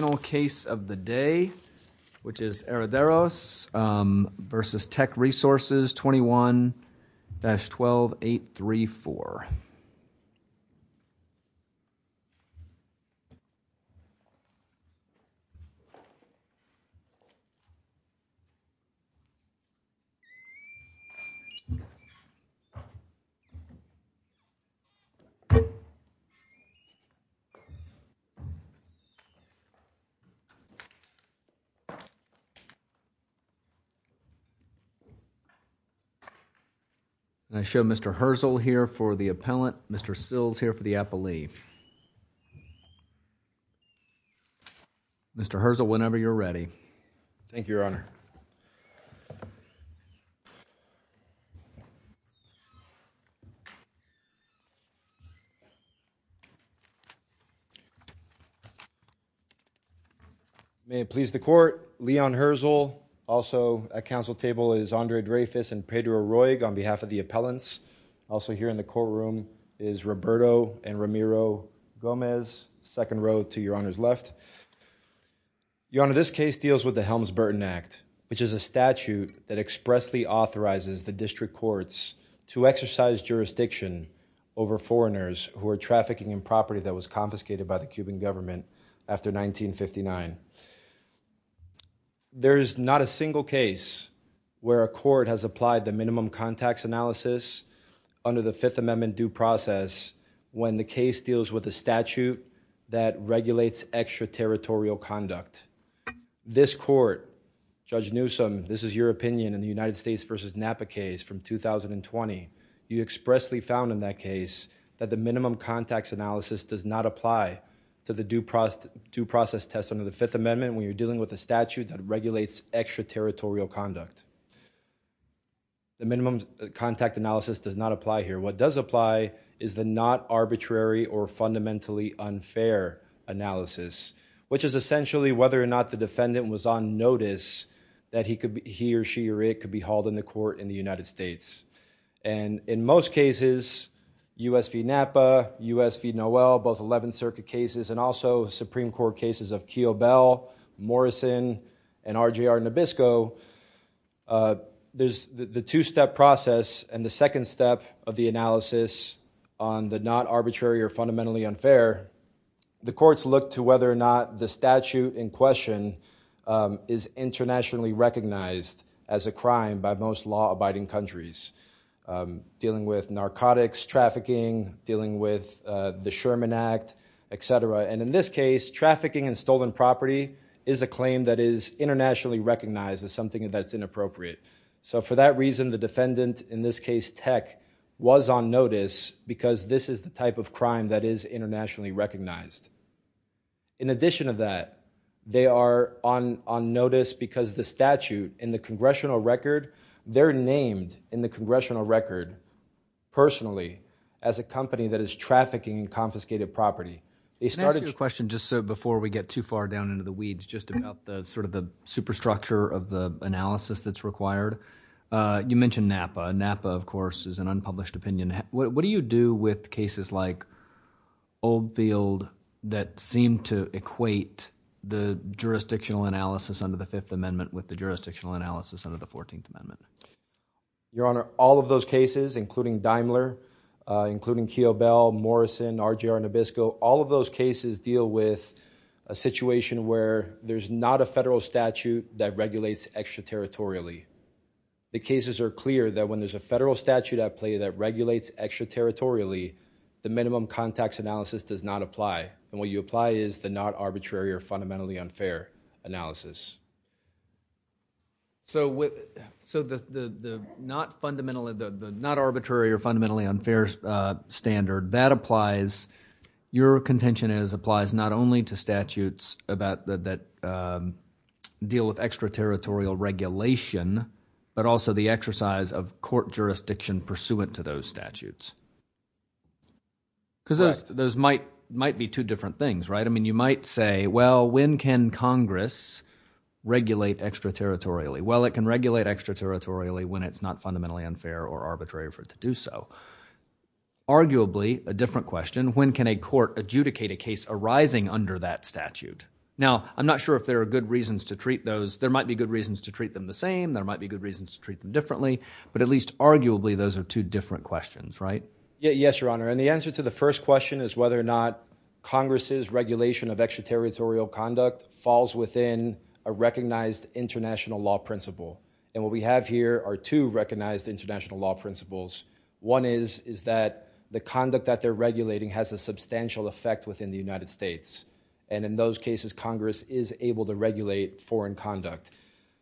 Final case of the day, which is Herederos v. Teck Resources, 21-12834. I show Mr. Herzl here for the appellant, Mr. Sills here for the appellee. Mr. Herzl whenever you're ready. Thank you, Your Honor. May it please the court, Leon Herzl, also at council table is Andre Dreyfus and Pedro Gomez, second row to Your Honor's left. Your Honor, this case deals with the Helms-Burton Act, which is a statute that expressly authorizes the district courts to exercise jurisdiction over foreigners who are trafficking in property that was confiscated by the Cuban government after 1959. There's not a single case where a court has applied the minimum contacts analysis under the Fifth Amendment due process when the case deals with a statute that regulates extraterritorial conduct. This court, Judge Newsome, this is your opinion in the United States v. Napa case from 2020. You expressly found in that case that the minimum contacts analysis does not apply to the due process test under the Fifth Amendment when you're does not apply here. What does apply is the not arbitrary or fundamentally unfair analysis, which is essentially whether or not the defendant was on notice that he or she or it could be hauled into court in the United States. And in most cases, U.S. v. Napa, U.S. v. Noel, both 11th Circuit cases and also Supreme Court cases of Keogh Bell, Morrison, and RJR Nabisco, there's the two-step process and the second step of the analysis on the not arbitrary or fundamentally unfair. The courts look to whether or not the statute in question is internationally recognized as a crime by most law-abiding countries dealing with narcotics trafficking, dealing with the Sherman Act, etc. And in this case, trafficking and stolen property is a claim that is internationally recognized as something that's inappropriate. So for that reason, the defendant, in this case, Tech, was on notice because this is the type of crime that is internationally recognized. In addition of that, they are on notice because the statute in the congressional record, they're named in the congressional record personally as a company that is trafficking and confiscated property. They started- Can I ask you a question just so we get too far down into the weeds, just about the sort of the superstructure of the analysis that's required? You mentioned Napa. Napa, of course, is an unpublished opinion. What do you do with cases like Oldfield that seem to equate the jurisdictional analysis under the Fifth Amendment with the jurisdictional analysis under the Fourteenth Amendment? Your Honor, all of those cases, including Daimler, including Keogh Bell, Morrison, RJR Nabisco, all of those cases deal with a situation where there's not a federal statute that regulates extraterritorially. The cases are clear that when there's a federal statute at play that regulates extraterritorially, the minimum contacts analysis does not apply. And what you apply is the not arbitrary or fundamentally unfair analysis. So the not arbitrary or fundamentally unfair standard, that applies- Not only to statutes that deal with extraterritorial regulation, but also the exercise of court jurisdiction pursuant to those statutes. Because those might be two different things, right? I mean, you might say, well, when can Congress regulate extraterritorially? Well, it can regulate extraterritorially when it's not fundamentally unfair or arbitrary for it to under that statute. Now, I'm not sure if there are good reasons to treat those. There might be good reasons to treat them the same. There might be good reasons to treat them differently. But at least arguably, those are two different questions, right? Yes, Your Honor. And the answer to the first question is whether or not Congress's regulation of extraterritorial conduct falls within a recognized international law principle. And what we have here are two recognized international law principles. One is that the conduct that they're regulating has a substantial effect within the United States. And in those cases, Congress is able to regulate foreign conduct.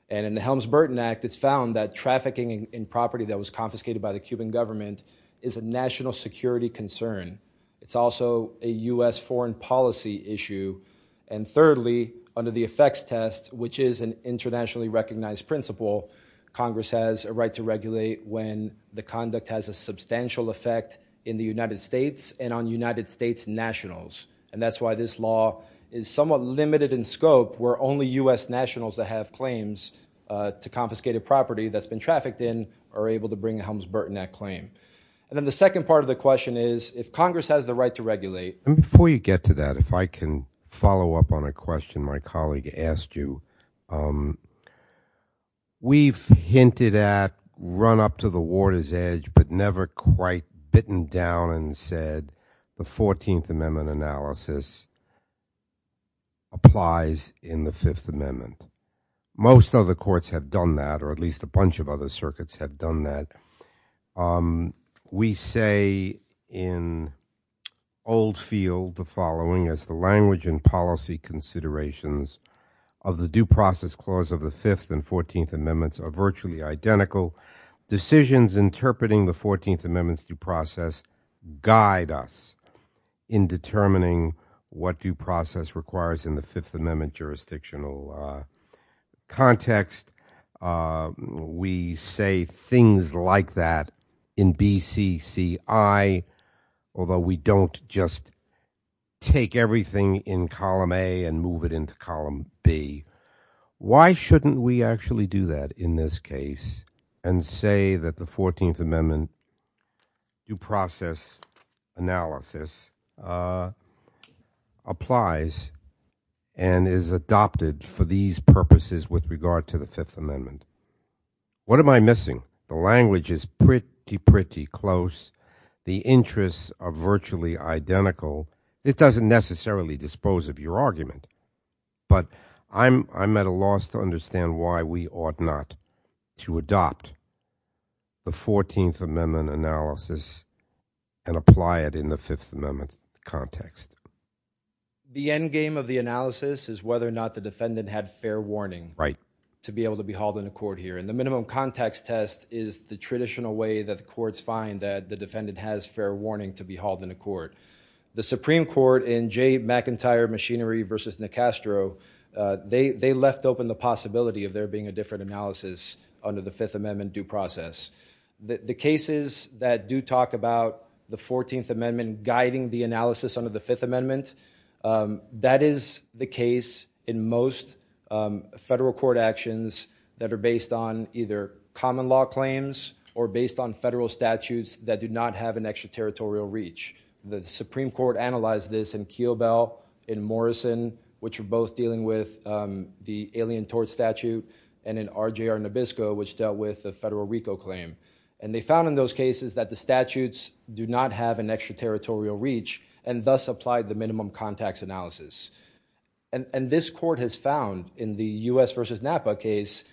And in the Helms-Burton Act, it's found that trafficking in property that was confiscated by the Cuban government is a national security concern. It's also a U.S. foreign policy issue. And thirdly, under the effects test, which is an internationally recognized principle, Congress has a right to regulate when the conduct has a substantial effect in the United States and on United States nationals. And that's why this law is somewhat limited in scope, where only U.S. nationals that have claims to confiscated property that's been trafficked in are able to bring a Helms-Burton Act claim. And then the second part of the question is, if Congress has the right to regulate... And before you get to that, if I can follow up on a question my colleague asked you. We've hinted at, run up to the water's edge, but never quite bitten down and said the 14th Amendment analysis applies in the Fifth Amendment. Most other courts have done that, or at least a bunch of other circuits have done that. We say in old field the following as the language and policy considerations of the Due Process Clause of the Fifth and Fourteenth Amendments are virtually identical. Decisions interpreting the Fourteenth Amendment's due process guide us in determining what due process requires in the Fifth Amendment jurisdictional context. We say things like that in BCCI, although we don't just take everything in column A and move it into column B. Why shouldn't we actually do that in this case and say that the Fourteenth Amendment due process analysis applies and is adopted for these purposes with regard to the Fifth Amendment? What am I pretty, pretty close? The interests are virtually identical. It doesn't necessarily dispose of your argument, but I'm at a loss to understand why we ought not to adopt the Fourteenth Amendment analysis and apply it in the Fifth Amendment context. The endgame of the analysis is whether or not the defendant had fair warning to be able to be hauled into court here. And the minimum context test is the traditional way that the courts find that the defendant has fair warning to be hauled into court. The Supreme Court in Jay McIntyre machinery versus Nicastro, they left open the possibility of there being a different analysis under the Fifth Amendment due process. The cases that do talk about the Fourteenth Amendment guiding the analysis under the Fifth Amendment, that is the case in most federal court actions that are based on either common law claims or based on federal statutes that do not have an extraterritorial reach. The Supreme Court analyzed this in Keogh Bell, in Morrison, which are both dealing with the alien tort statute, and in RJR Nabisco, which dealt with the federal RICO claim. And they found in those cases that the statutes do not have an extraterritorial reach and thus applied the minimum context analysis. And this court has found in the U.S. versus Napa case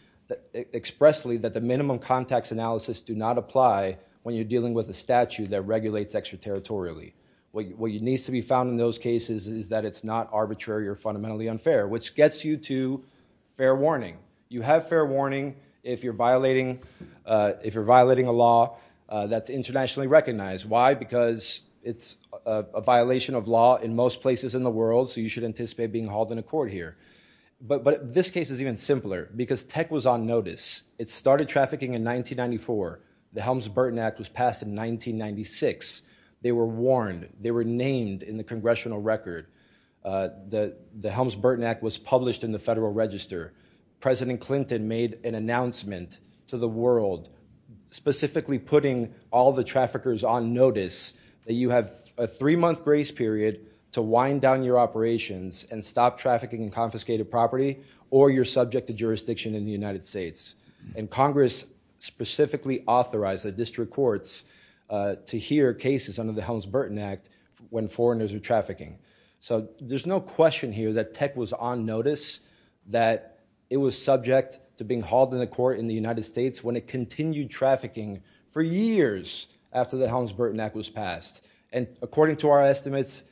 expressly that the minimum context analysis do not apply when you're dealing with a statute that regulates extraterritorially. What needs to be found in those cases is that it's not arbitrary or fundamentally unfair, which gets you to fair warning. You have fair warning if you're violating a law that's internationally recognized. Why? Because it's a violation of law in most places in the world, so you should anticipate being hauled into court here. But this case is even simpler, because tech was on notice. It started trafficking in 1994. The Helms-Burton Act was passed in 1996. They were warned. They were named in the congressional record. The Helms-Burton Act was published in the Federal Register. President Clinton made an announcement to the world, specifically putting all the traffickers on notice that you have a three-month grace period to wind down your operations and stop trafficking and confiscated property, or you're subject to jurisdiction in the United States. And Congress specifically authorized the district courts to hear cases under the Helms-Burton Act when foreigners are trafficking. So there's no question here that tech was on notice, that it was subject to being hauled into court in the United States when it continued trafficking for years after the Helms-Burton Act was passed. And according to our estimates,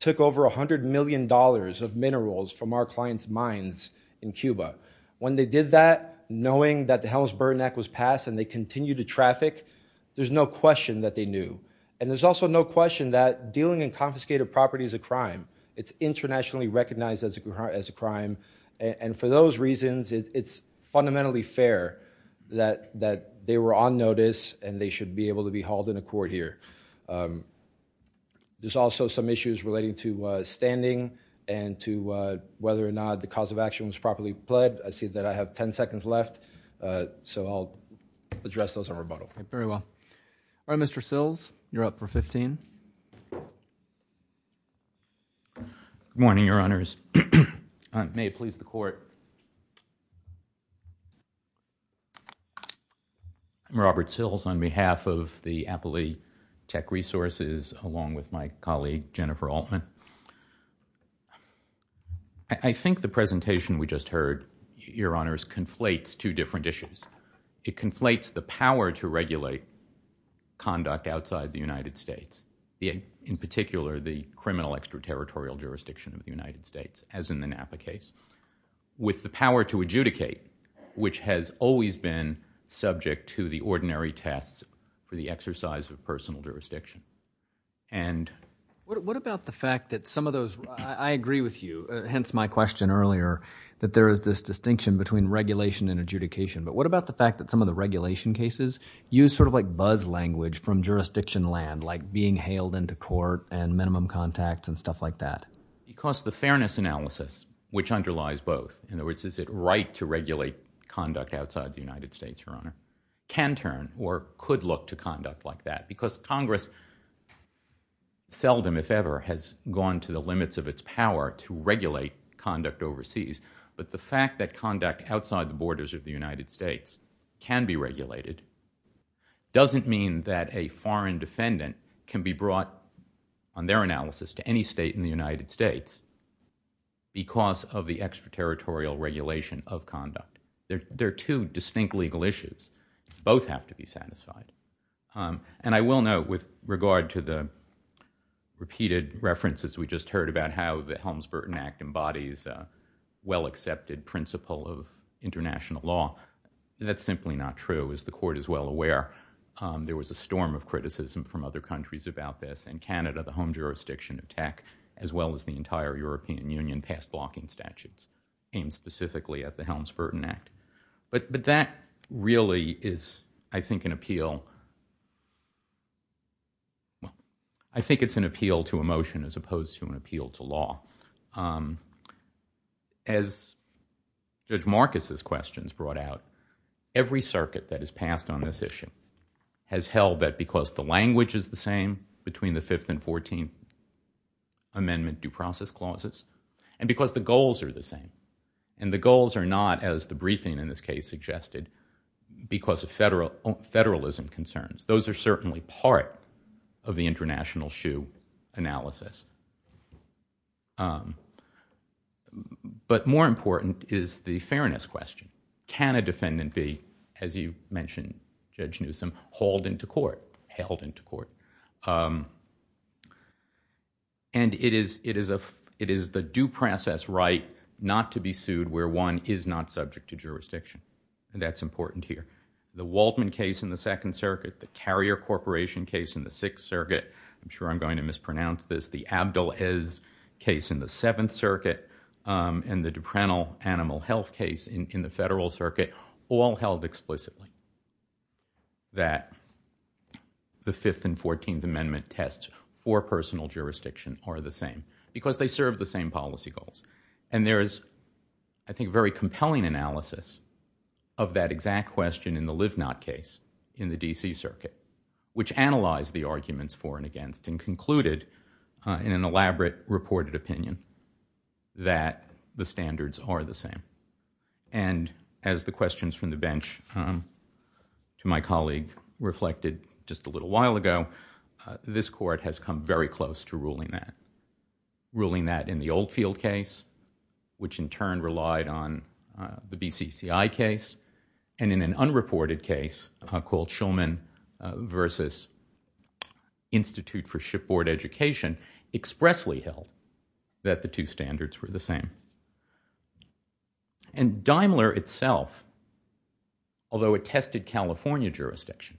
took over $100 million of minerals from our clients' mines in Cuba. When they did that, knowing that the Helms-Burton Act was passed and they continued to traffic, there's no question that they knew. And there's also no question that dealing in confiscated property is a crime. It's internationally recognized as a crime. And for those reasons, it's fundamentally fair that they were on notice and they should be able to be hauled into court here. There's also some issues relating to standing and to whether or not the cause of action was properly pled. I see that I have 10 seconds left, so I'll address those in rebuttal. Very well. All right, Mr. Sills, you're up for 15. Good morning, Your Honors. May it please the Court. I'm Robert Sills on behalf of the Appley Tech Resources along with my colleague Jennifer Altman. I think the presentation we just heard, Your Honors, conflates two different issues. It conflates the power to regulate conduct outside the United States, in particular, the criminal extraterritorial jurisdiction of the United States, as in the Napa case, with the power to adjudicate, which has always been subject to the ordinary tests for the exercise of personal jurisdiction. What about the fact that some of those, I agree with you, hence my question earlier, that there is this distinction between regulation and fairness? What about the fact that some of the regulation cases use sort of like buzz language from jurisdiction land, like being hailed into court and minimum contacts and stuff like that? Because the fairness analysis, which underlies both, in other words, is it right to regulate conduct outside the United States, Your Honor, can turn or could look to conduct like that. Because Congress seldom, if ever, has gone to the limits of its power to regulate conduct overseas. But the fact that conduct outside the borders of the United States can be regulated doesn't mean that a foreign defendant can be brought, on their analysis, to any state in the United States because of the extraterritorial regulation of conduct. They're two distinct legal issues. Both have to be satisfied. And I will note, with regard to the repeated references we just heard about how the Helms-Burton Act embodies a well-accepted principle of international law, that's simply not true. As the Court is well aware, there was a storm of criticism from other countries about this. And Canada, the home jurisdiction of tech, as well as the entire European Union, passed blocking statutes aimed specifically at the Helms-Burton Act. But that really is, I think, an appeal to emotion as opposed to an appeal to law. As Judge Marcus's questions brought out, every circuit that has passed on this issue has held that because the language is the same between the Fifth and Fourteenth Amendment due process clauses, and because the goals are the same. And the goals are not, as the briefing in this case suggested, because of federalism concerns. Those are certainly part of the international shoe analysis. But more important is the fairness question. Can a defendant be, as you mentioned, Judge Newsom, hauled into court, held into court? And it is the due process right not to be sued where one is not subject to jurisdiction. And that's important here. The Waldman case in the Second Circuit, the Carrier Corporation case in the Sixth Circuit, I'm sure I'm going to mispronounce this, the Abdul-Ez case in the Seventh Circuit, and the Duprental Animal Health case in the Federal Circuit, all held explicitly that the Fifth and Fourteenth Amendment tests for personal jurisdiction are the same, because they serve the same policy goals. And there is, I think, a very compelling analysis of that exact question in the Livnot case in the D.C. Circuit, which analyzed the arguments for and against and concluded, in an elaborate reported opinion, that the standards are the same. And as the questions from the bench to my colleague reflected just a little while ago, this Court has come very close to ruling that. Ruling that in the Oldfield case, which in turn relied on the BCCI case, and in an unreported case called Schulman versus Institute for Shipboard Education, expressly held that the two standards were the same. And Daimler itself, although it tested California jurisdiction,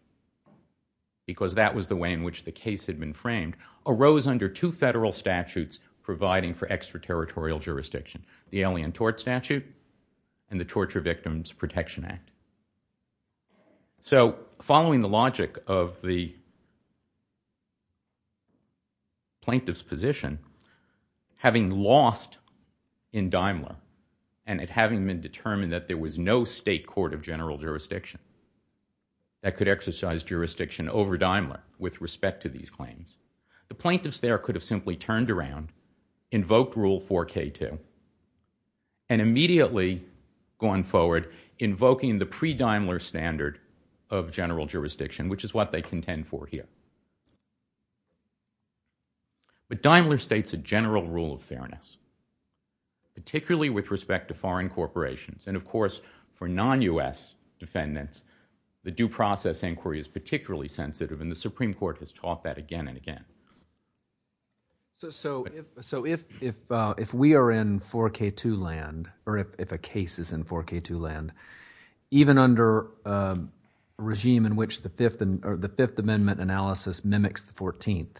because that was the way in which the case had been framed, arose under two federal statutes providing for extraterritorial jurisdiction, the Alien Tort Statute and the Torture Victims Protection Act. So following the logic of the plaintiff's position, having lost in Daimler, and it having been determined that there was no state court of general jurisdiction that could exercise jurisdiction over Daimler with respect to these claims, the plaintiffs there could have simply turned around, invoked Rule 4K2, and immediately gone forward invoking the pre-Daimler standard of general jurisdiction, which is what they contend for here. But Daimler states a general rule of fairness, particularly with respect to foreign corporations. And of course, for non-U.S. defendants, the due process inquiry is particularly sensitive, and the Supreme Court has taught that again and again. So if we are in 4K2 land, or if a case is in 4K2 land, even under a regime in which the Fifth Amendment analysis mimics the 14th,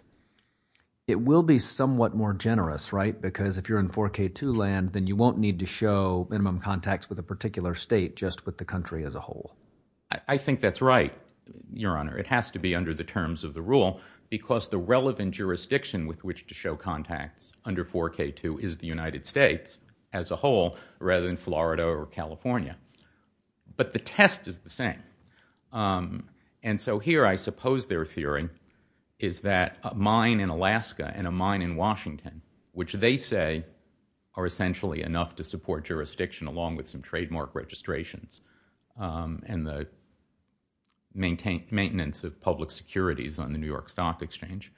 it will be somewhat more generous, right? Because if you're in 4K2 land, then you won't need to show minimum contacts with a particular state, just with the country as a whole. I think that's right, Your Honor. It has to be under the terms of the rule, because the relevant jurisdiction with which to show contacts under 4K2 is the United States as a whole, rather than Florida or California. But the test is the same. And so here, I suppose their theory is that a mine in Alaska and a mine in Washington, which they say are essentially enough to support jurisdiction, along with some trademark registrations and the maintenance of public securities on the New York Stock Exchange,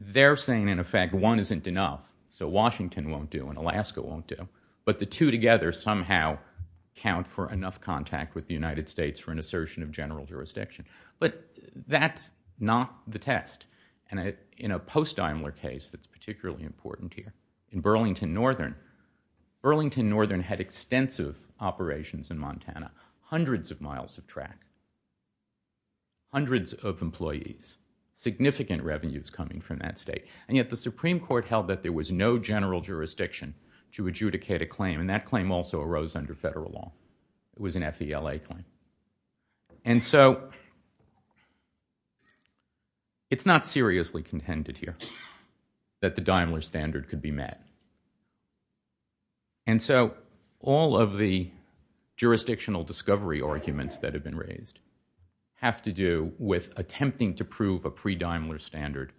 they're saying, in effect, one isn't enough. So Washington won't do, and Alaska won't do. But the two together somehow count for enough contact with the United States for an assertion of general jurisdiction. But that's not the test. And in a post-Daimler case that's particularly important here, in Burlington Northern, Burlington Northern had extensive operations in Montana, hundreds of miles of track, hundreds of employees, significant revenues coming from that state. And yet the Supreme Court held that there was no general jurisdiction to adjudicate a claim. And that claim also arose under federal law. It was an FELA claim. And so it's not seriously contended here that the Daimler standard could be met. And so all of the jurisdictional discovery arguments that have been raised have to do with attempting to prove a pre-Daimler standard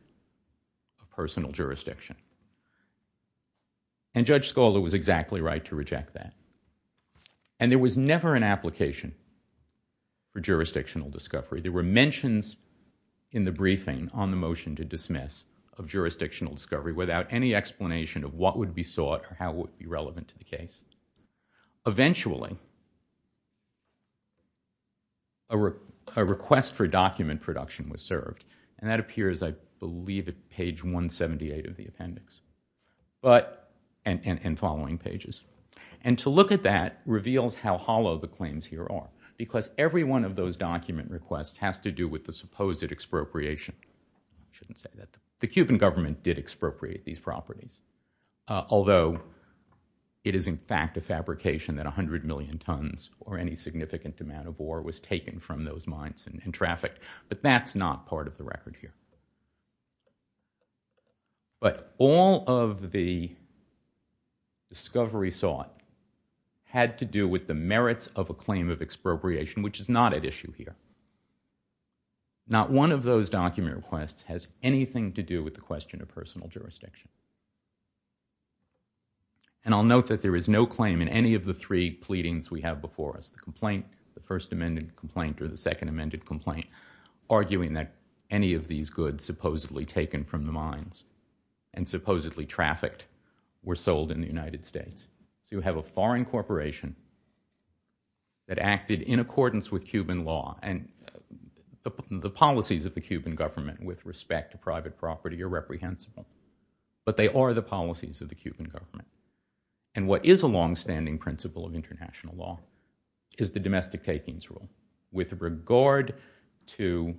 of personal jurisdiction. And Judge Scala was exactly right to reject that. And there was never an application for jurisdictional discovery. There were mentions in the briefing on the motion to dismiss of jurisdictional discovery without any explanation of what would be sought or how it would be relevant to the case. Eventually, a request for document production was served. And that but and following pages. And to look at that reveals how hollow the claims here are. Because every one of those document requests has to do with the supposed expropriation. I shouldn't say that. The Cuban government did expropriate these properties. Although it is in fact a fabrication that 100 million tons or any significant amount of ore was taken from those mines and trafficked. But that's not part of the record here. But all of the discovery sought had to do with the merits of a claim of expropriation, which is not at issue here. Not one of those document requests has anything to do with the question of personal jurisdiction. And I'll note that there is no claim in any of the three pleadings we have before us. The complaint, the first amended complaint, or the second amended complaint, arguing that any of these goods supposedly taken from the mines and supposedly trafficked were sold in the United States. You have a foreign corporation that acted in accordance with Cuban law and the policies of the Cuban government with respect to private property are reprehensible. But they are the policies of the Cuban government. And what is to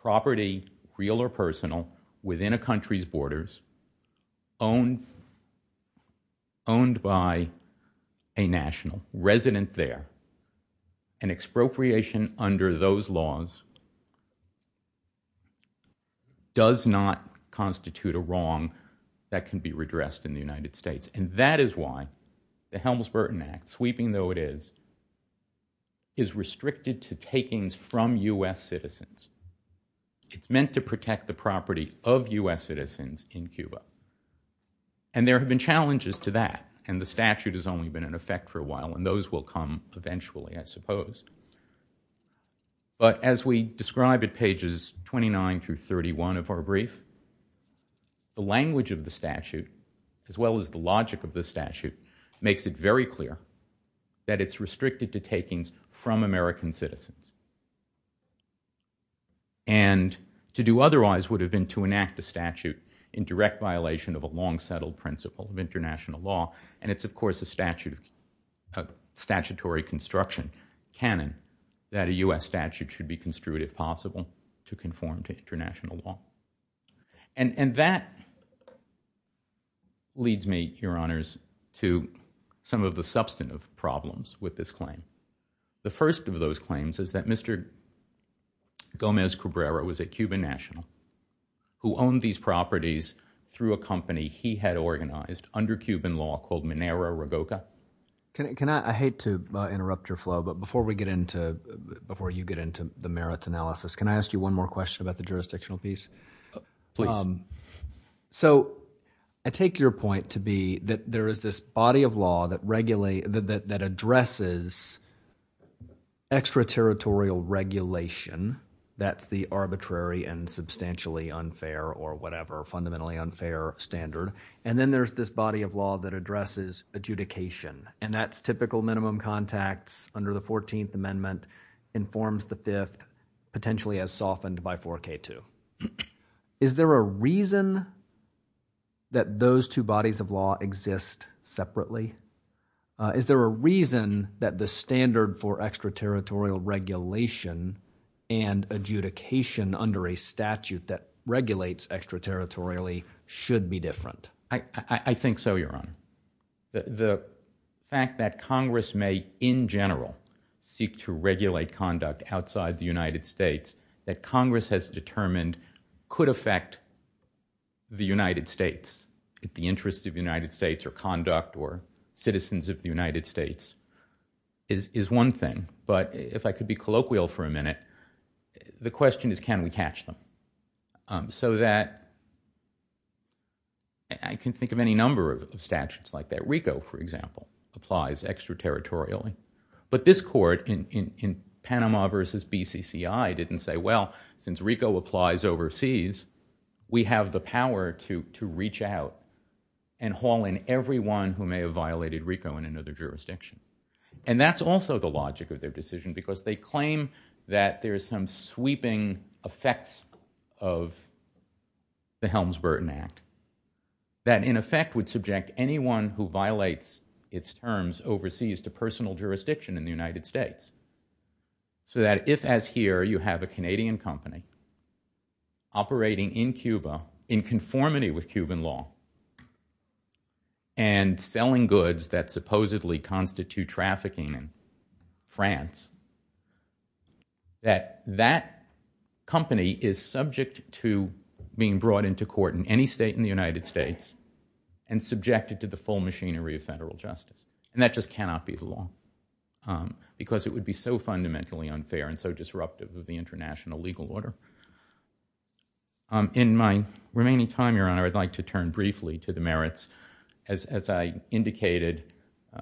property real or personal within a country's borders, owned by a national resident there, an expropriation under those laws does not constitute a wrong that can be redressed in the United States. And that is why the Helms-Burton Act, sweeping though it is, is restricted to takings from U.S. citizens. It's meant to protect the property of U.S. citizens in Cuba. And there have been challenges to that. And the statute has only been in effect for a while. And those will come eventually, I suppose. But as we describe at pages 29 through 31 of our brief, the language of the statute, as well as the logic of the statute, makes it very clear that it's restricted to takings from American citizens. And to do otherwise would have been to enact a statute in direct violation of a long-settled principle of international law. And it's, of course, a statutory construction canon that a U.S. statute should be construed if possible to conform to international law. And that leads me, Your Honors, to some of the substantive problems with this claim. The first of those claims is that Mr. Gomez-Cabrera was a Cuban national who owned these properties through a company he had organized under Cuban law called Minero-Ragoca. I hate to interrupt your flow, but before you get into the merits analysis, can I ask you one more question about the jurisdictional piece? Please. So I take your point to be that there is this body of law that regulates, that addresses extraterritorial regulation. That's the arbitrary and substantially unfair or whatever, fundamentally unfair standard. And then there's this body of law that addresses adjudication. And that's typical minimum contacts under the 4K2. Is there a reason that those two bodies of law exist separately? Is there a reason that the standard for extraterritorial regulation and adjudication under a statute that regulates extraterritorially should be different? I think so, Your Honor. The fact that Congress may, in general, seek to regulate conduct outside the United States that Congress has determined could affect the United States, the interests of the United States or conduct or citizens of the United States is one thing. But if I could be colloquial for a minute, the question is, can we catch them? So that I can think of any number of statutes like that. RICO, for example, applies extraterritorially. But this court in Panama versus BCCI didn't say, well, since RICO applies overseas, we have the power to reach out and haul in everyone who may have violated RICO in another jurisdiction. And that's also the logic of their decision, because they claim that there is some sweeping effects of the Helms-Burton Act that in effect would subject anyone who violates its terms overseas to personal jurisdiction in the United States. So that if, as here, you have a Canadian company operating in Cuba in conformity with Cuban law and selling goods that supposedly constitute trafficking in France, that that company is to the full machinery of federal justice. And that just cannot be the law, because it would be so fundamentally unfair and so disruptive of the international legal order. In my remaining time, Your Honor, I'd like to turn briefly to the merits, as I indicated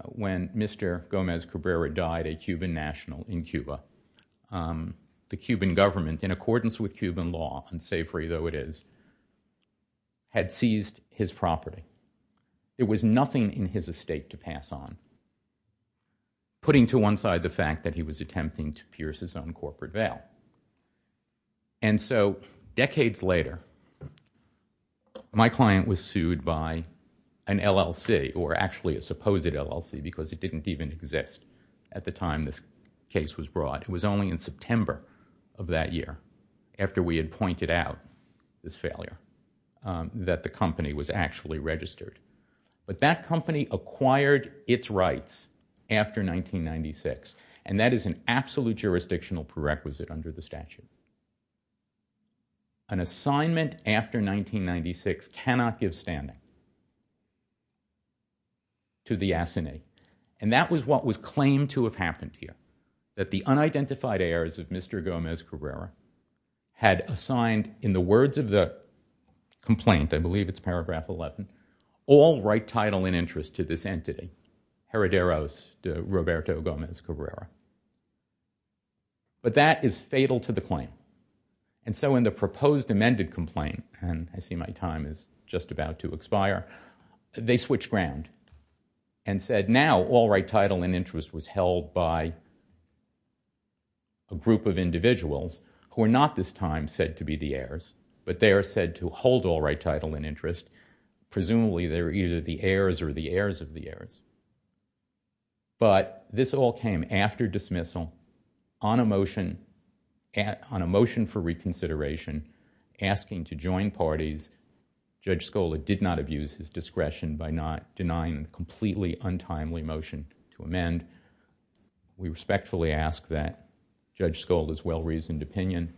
when Mr. Gomez Cabrera died a Cuban national in Cuba. The Cuban government, in accordance with Cuban law, and say free though it is, had seized his property. It was nothing in his estate to pass on, putting to one side the fact that he was attempting to pierce his own corporate veil. And so decades later, my client was sued by an LLC, or actually a supposed LLC, because it didn't even exist at the time this case was brought. It was only in September of that year, after we had pointed out this failure, that the company was actually registered. But that company acquired its rights after 1996, and that is an absolute jurisdictional prerequisite under the statute. An assignment after 1996 cannot give standing to the assignee. And that was what was claimed to have happened here, that the unidentified heirs of Mr. Gomez Cabrera had assigned, in the words of the complaint, I believe it's paragraph 11, all right title and interest to this entity, Herederos de Roberto Gomez Cabrera. But that is fatal to the claim. And so in the proposed amended complaint, and I see my time is just about to expire, they switched ground and said, now all right title and interest was held by a group of individuals who are not this time said to be the heirs, but they are said to hold all right title and interest. Presumably they're either the heirs or the heirs of the heirs. But this all came after dismissal, on a motion for reconsideration, asking to join parties. Judge Scola did not abuse his discretion by not motion to amend. We respectfully ask that Judge Scola's well-reasoned opinion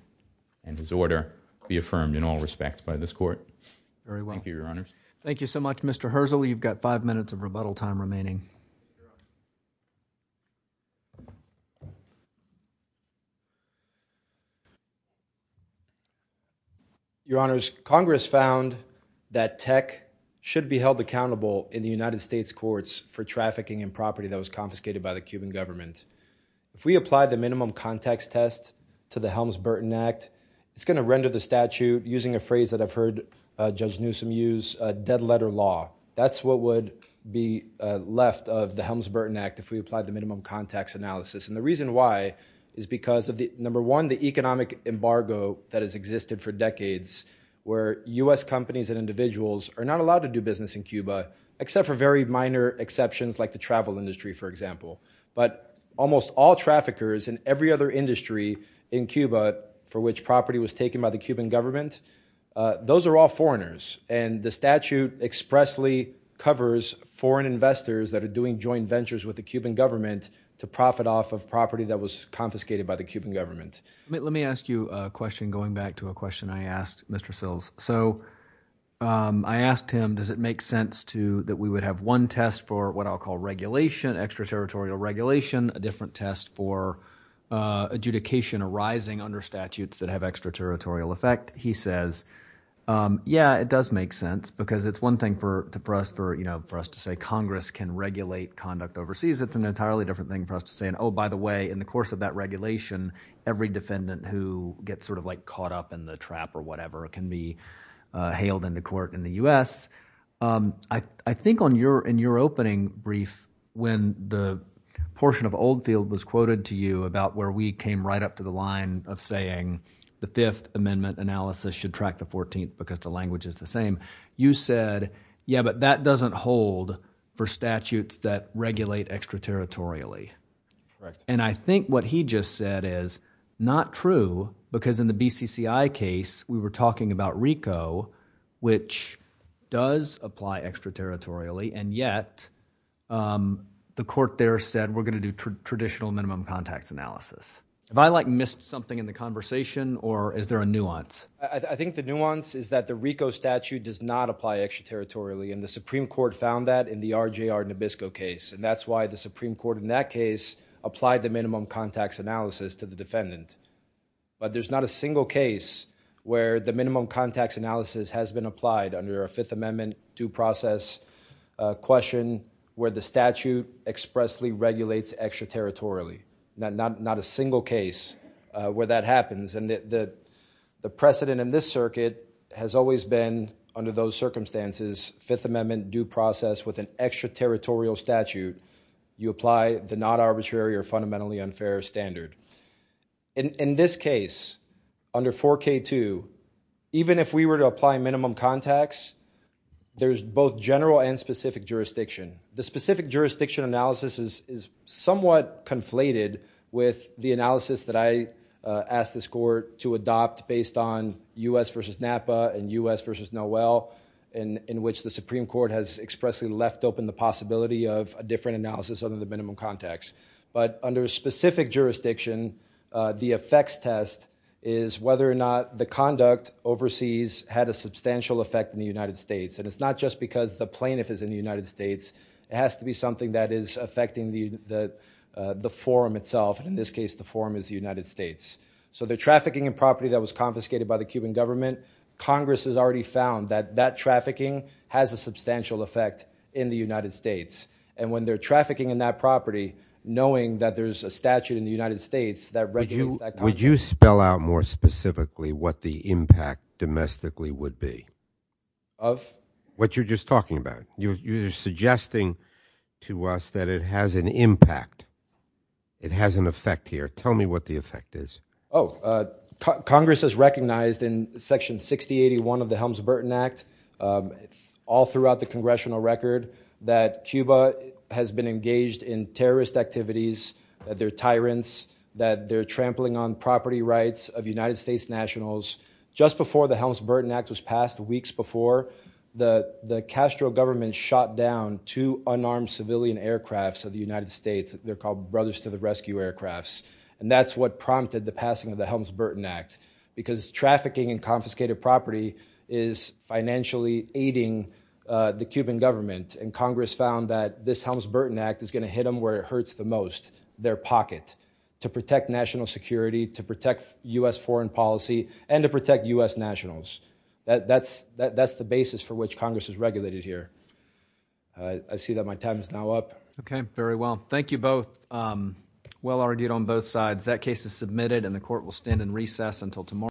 and his order be affirmed in all respects by this court. Thank you, your honors. Thank you so much, Mr. Herzl. You've got five minutes of rebuttal time remaining. Your honors, Congress found that tech should be held accountable in the United States courts for trafficking in property that was confiscated by the Cuban government. If we apply the minimum context test to the Helms-Burton Act, it's going to render the statute, using a phrase that I've heard Judge Newsom use, a dead letter law. That's what would be left of the Helms-Burton Act if we applied the minimum context analysis. And the reason why is because of, number one, the economic embargo that has existed for decades, where U.S. companies and individuals are not allowed to do business in Cuba, except for very minor exceptions like the travel industry, for example. But almost all traffickers in every other industry in Cuba for which property was taken by the Cuban government, those are all foreigners. And the statute expressly covers foreign investors that are doing joint ventures with the Cuban government to profit off of property that was confiscated by the Cuban government. Let me ask you a question going back to a question I asked Mr. Sills. So I asked him, does it make sense that we would have one test for what I'll call regulation, extraterritorial regulation, a different test for adjudication arising under statutes that have extraterritorial effect? He says, yeah, it does make sense because it's one thing for us to say Congress can regulate conduct overseas. It's an entirely different thing for us to say, oh, by the way, in the course of regulation, every defendant who gets sort of like caught up in the trap or whatever can be hailed into court in the U.S. I think in your opening brief, when the portion of Oldfield was quoted to you about where we came right up to the line of saying the Fifth Amendment analysis should track the 14th because the language is the same, you said, yeah, but that doesn't hold for statutes that regulate extraterritorially. And I think what he just said is not true because in the BCCI case, we were talking about RICO, which does apply extraterritorially. And yet the court there said, we're going to do traditional minimum contacts analysis. Have I like missed something in the conversation or is there a nuance? I think the nuance is that the RICO statute does not apply extraterritorially. And the RJR Nabisco case. And that's why the Supreme Court in that case applied the minimum contacts analysis to the defendant. But there's not a single case where the minimum contacts analysis has been applied under a Fifth Amendment due process question where the statute expressly regulates extraterritorially. Not a single case where that happens. And the precedent in this extraterritorial statute, you apply the not arbitrary or fundamentally unfair standard. In this case, under 4K2, even if we were to apply minimum contacts, there's both general and specific jurisdiction. The specific jurisdiction analysis is somewhat conflated with the analysis that I asked this court to adopt based on U.S. versus Napa and U.S. expressly left open the possibility of a different analysis under the minimum contacts. But under specific jurisdiction, the effects test is whether or not the conduct overseas had a substantial effect in the United States. And it's not just because the plaintiff is in the United States. It has to be something that is affecting the forum itself. In this case, the forum is the United States. So the trafficking and property that was confiscated by the Cuban effect in the United States. And when they're trafficking in that property, knowing that there's a statute in the United States that would you spell out more specifically what the impact domestically would be of what you're just talking about. You're suggesting to us that it has an impact. It has an effect here. Tell me what the effect is. Congress has recognized in section 6081 of the Helms-Burton Act, all throughout the congressional record, that Cuba has been engaged in terrorist activities, that they're tyrants, that they're trampling on property rights of United States nationals. Just before the Helms-Burton Act was passed, weeks before, the Castro government shot down two unarmed civilian aircrafts of the United States. They're called Brothers to the Rescue aircrafts. And that's what prompted the passing of the Helms-Burton Act, because trafficking and confiscated property is financially aiding the Cuban government. And Congress found that this Helms-Burton Act is going to hit them where it hurts the most, their pocket, to protect national security, to protect US foreign policy, and to protect US nationals. That's the basis for which Congress has regulated here. I see that my time is now up. Okay, very well. Thank you both. Well argued on both sides. That case is submitted and the court will stand in recess until tomorrow.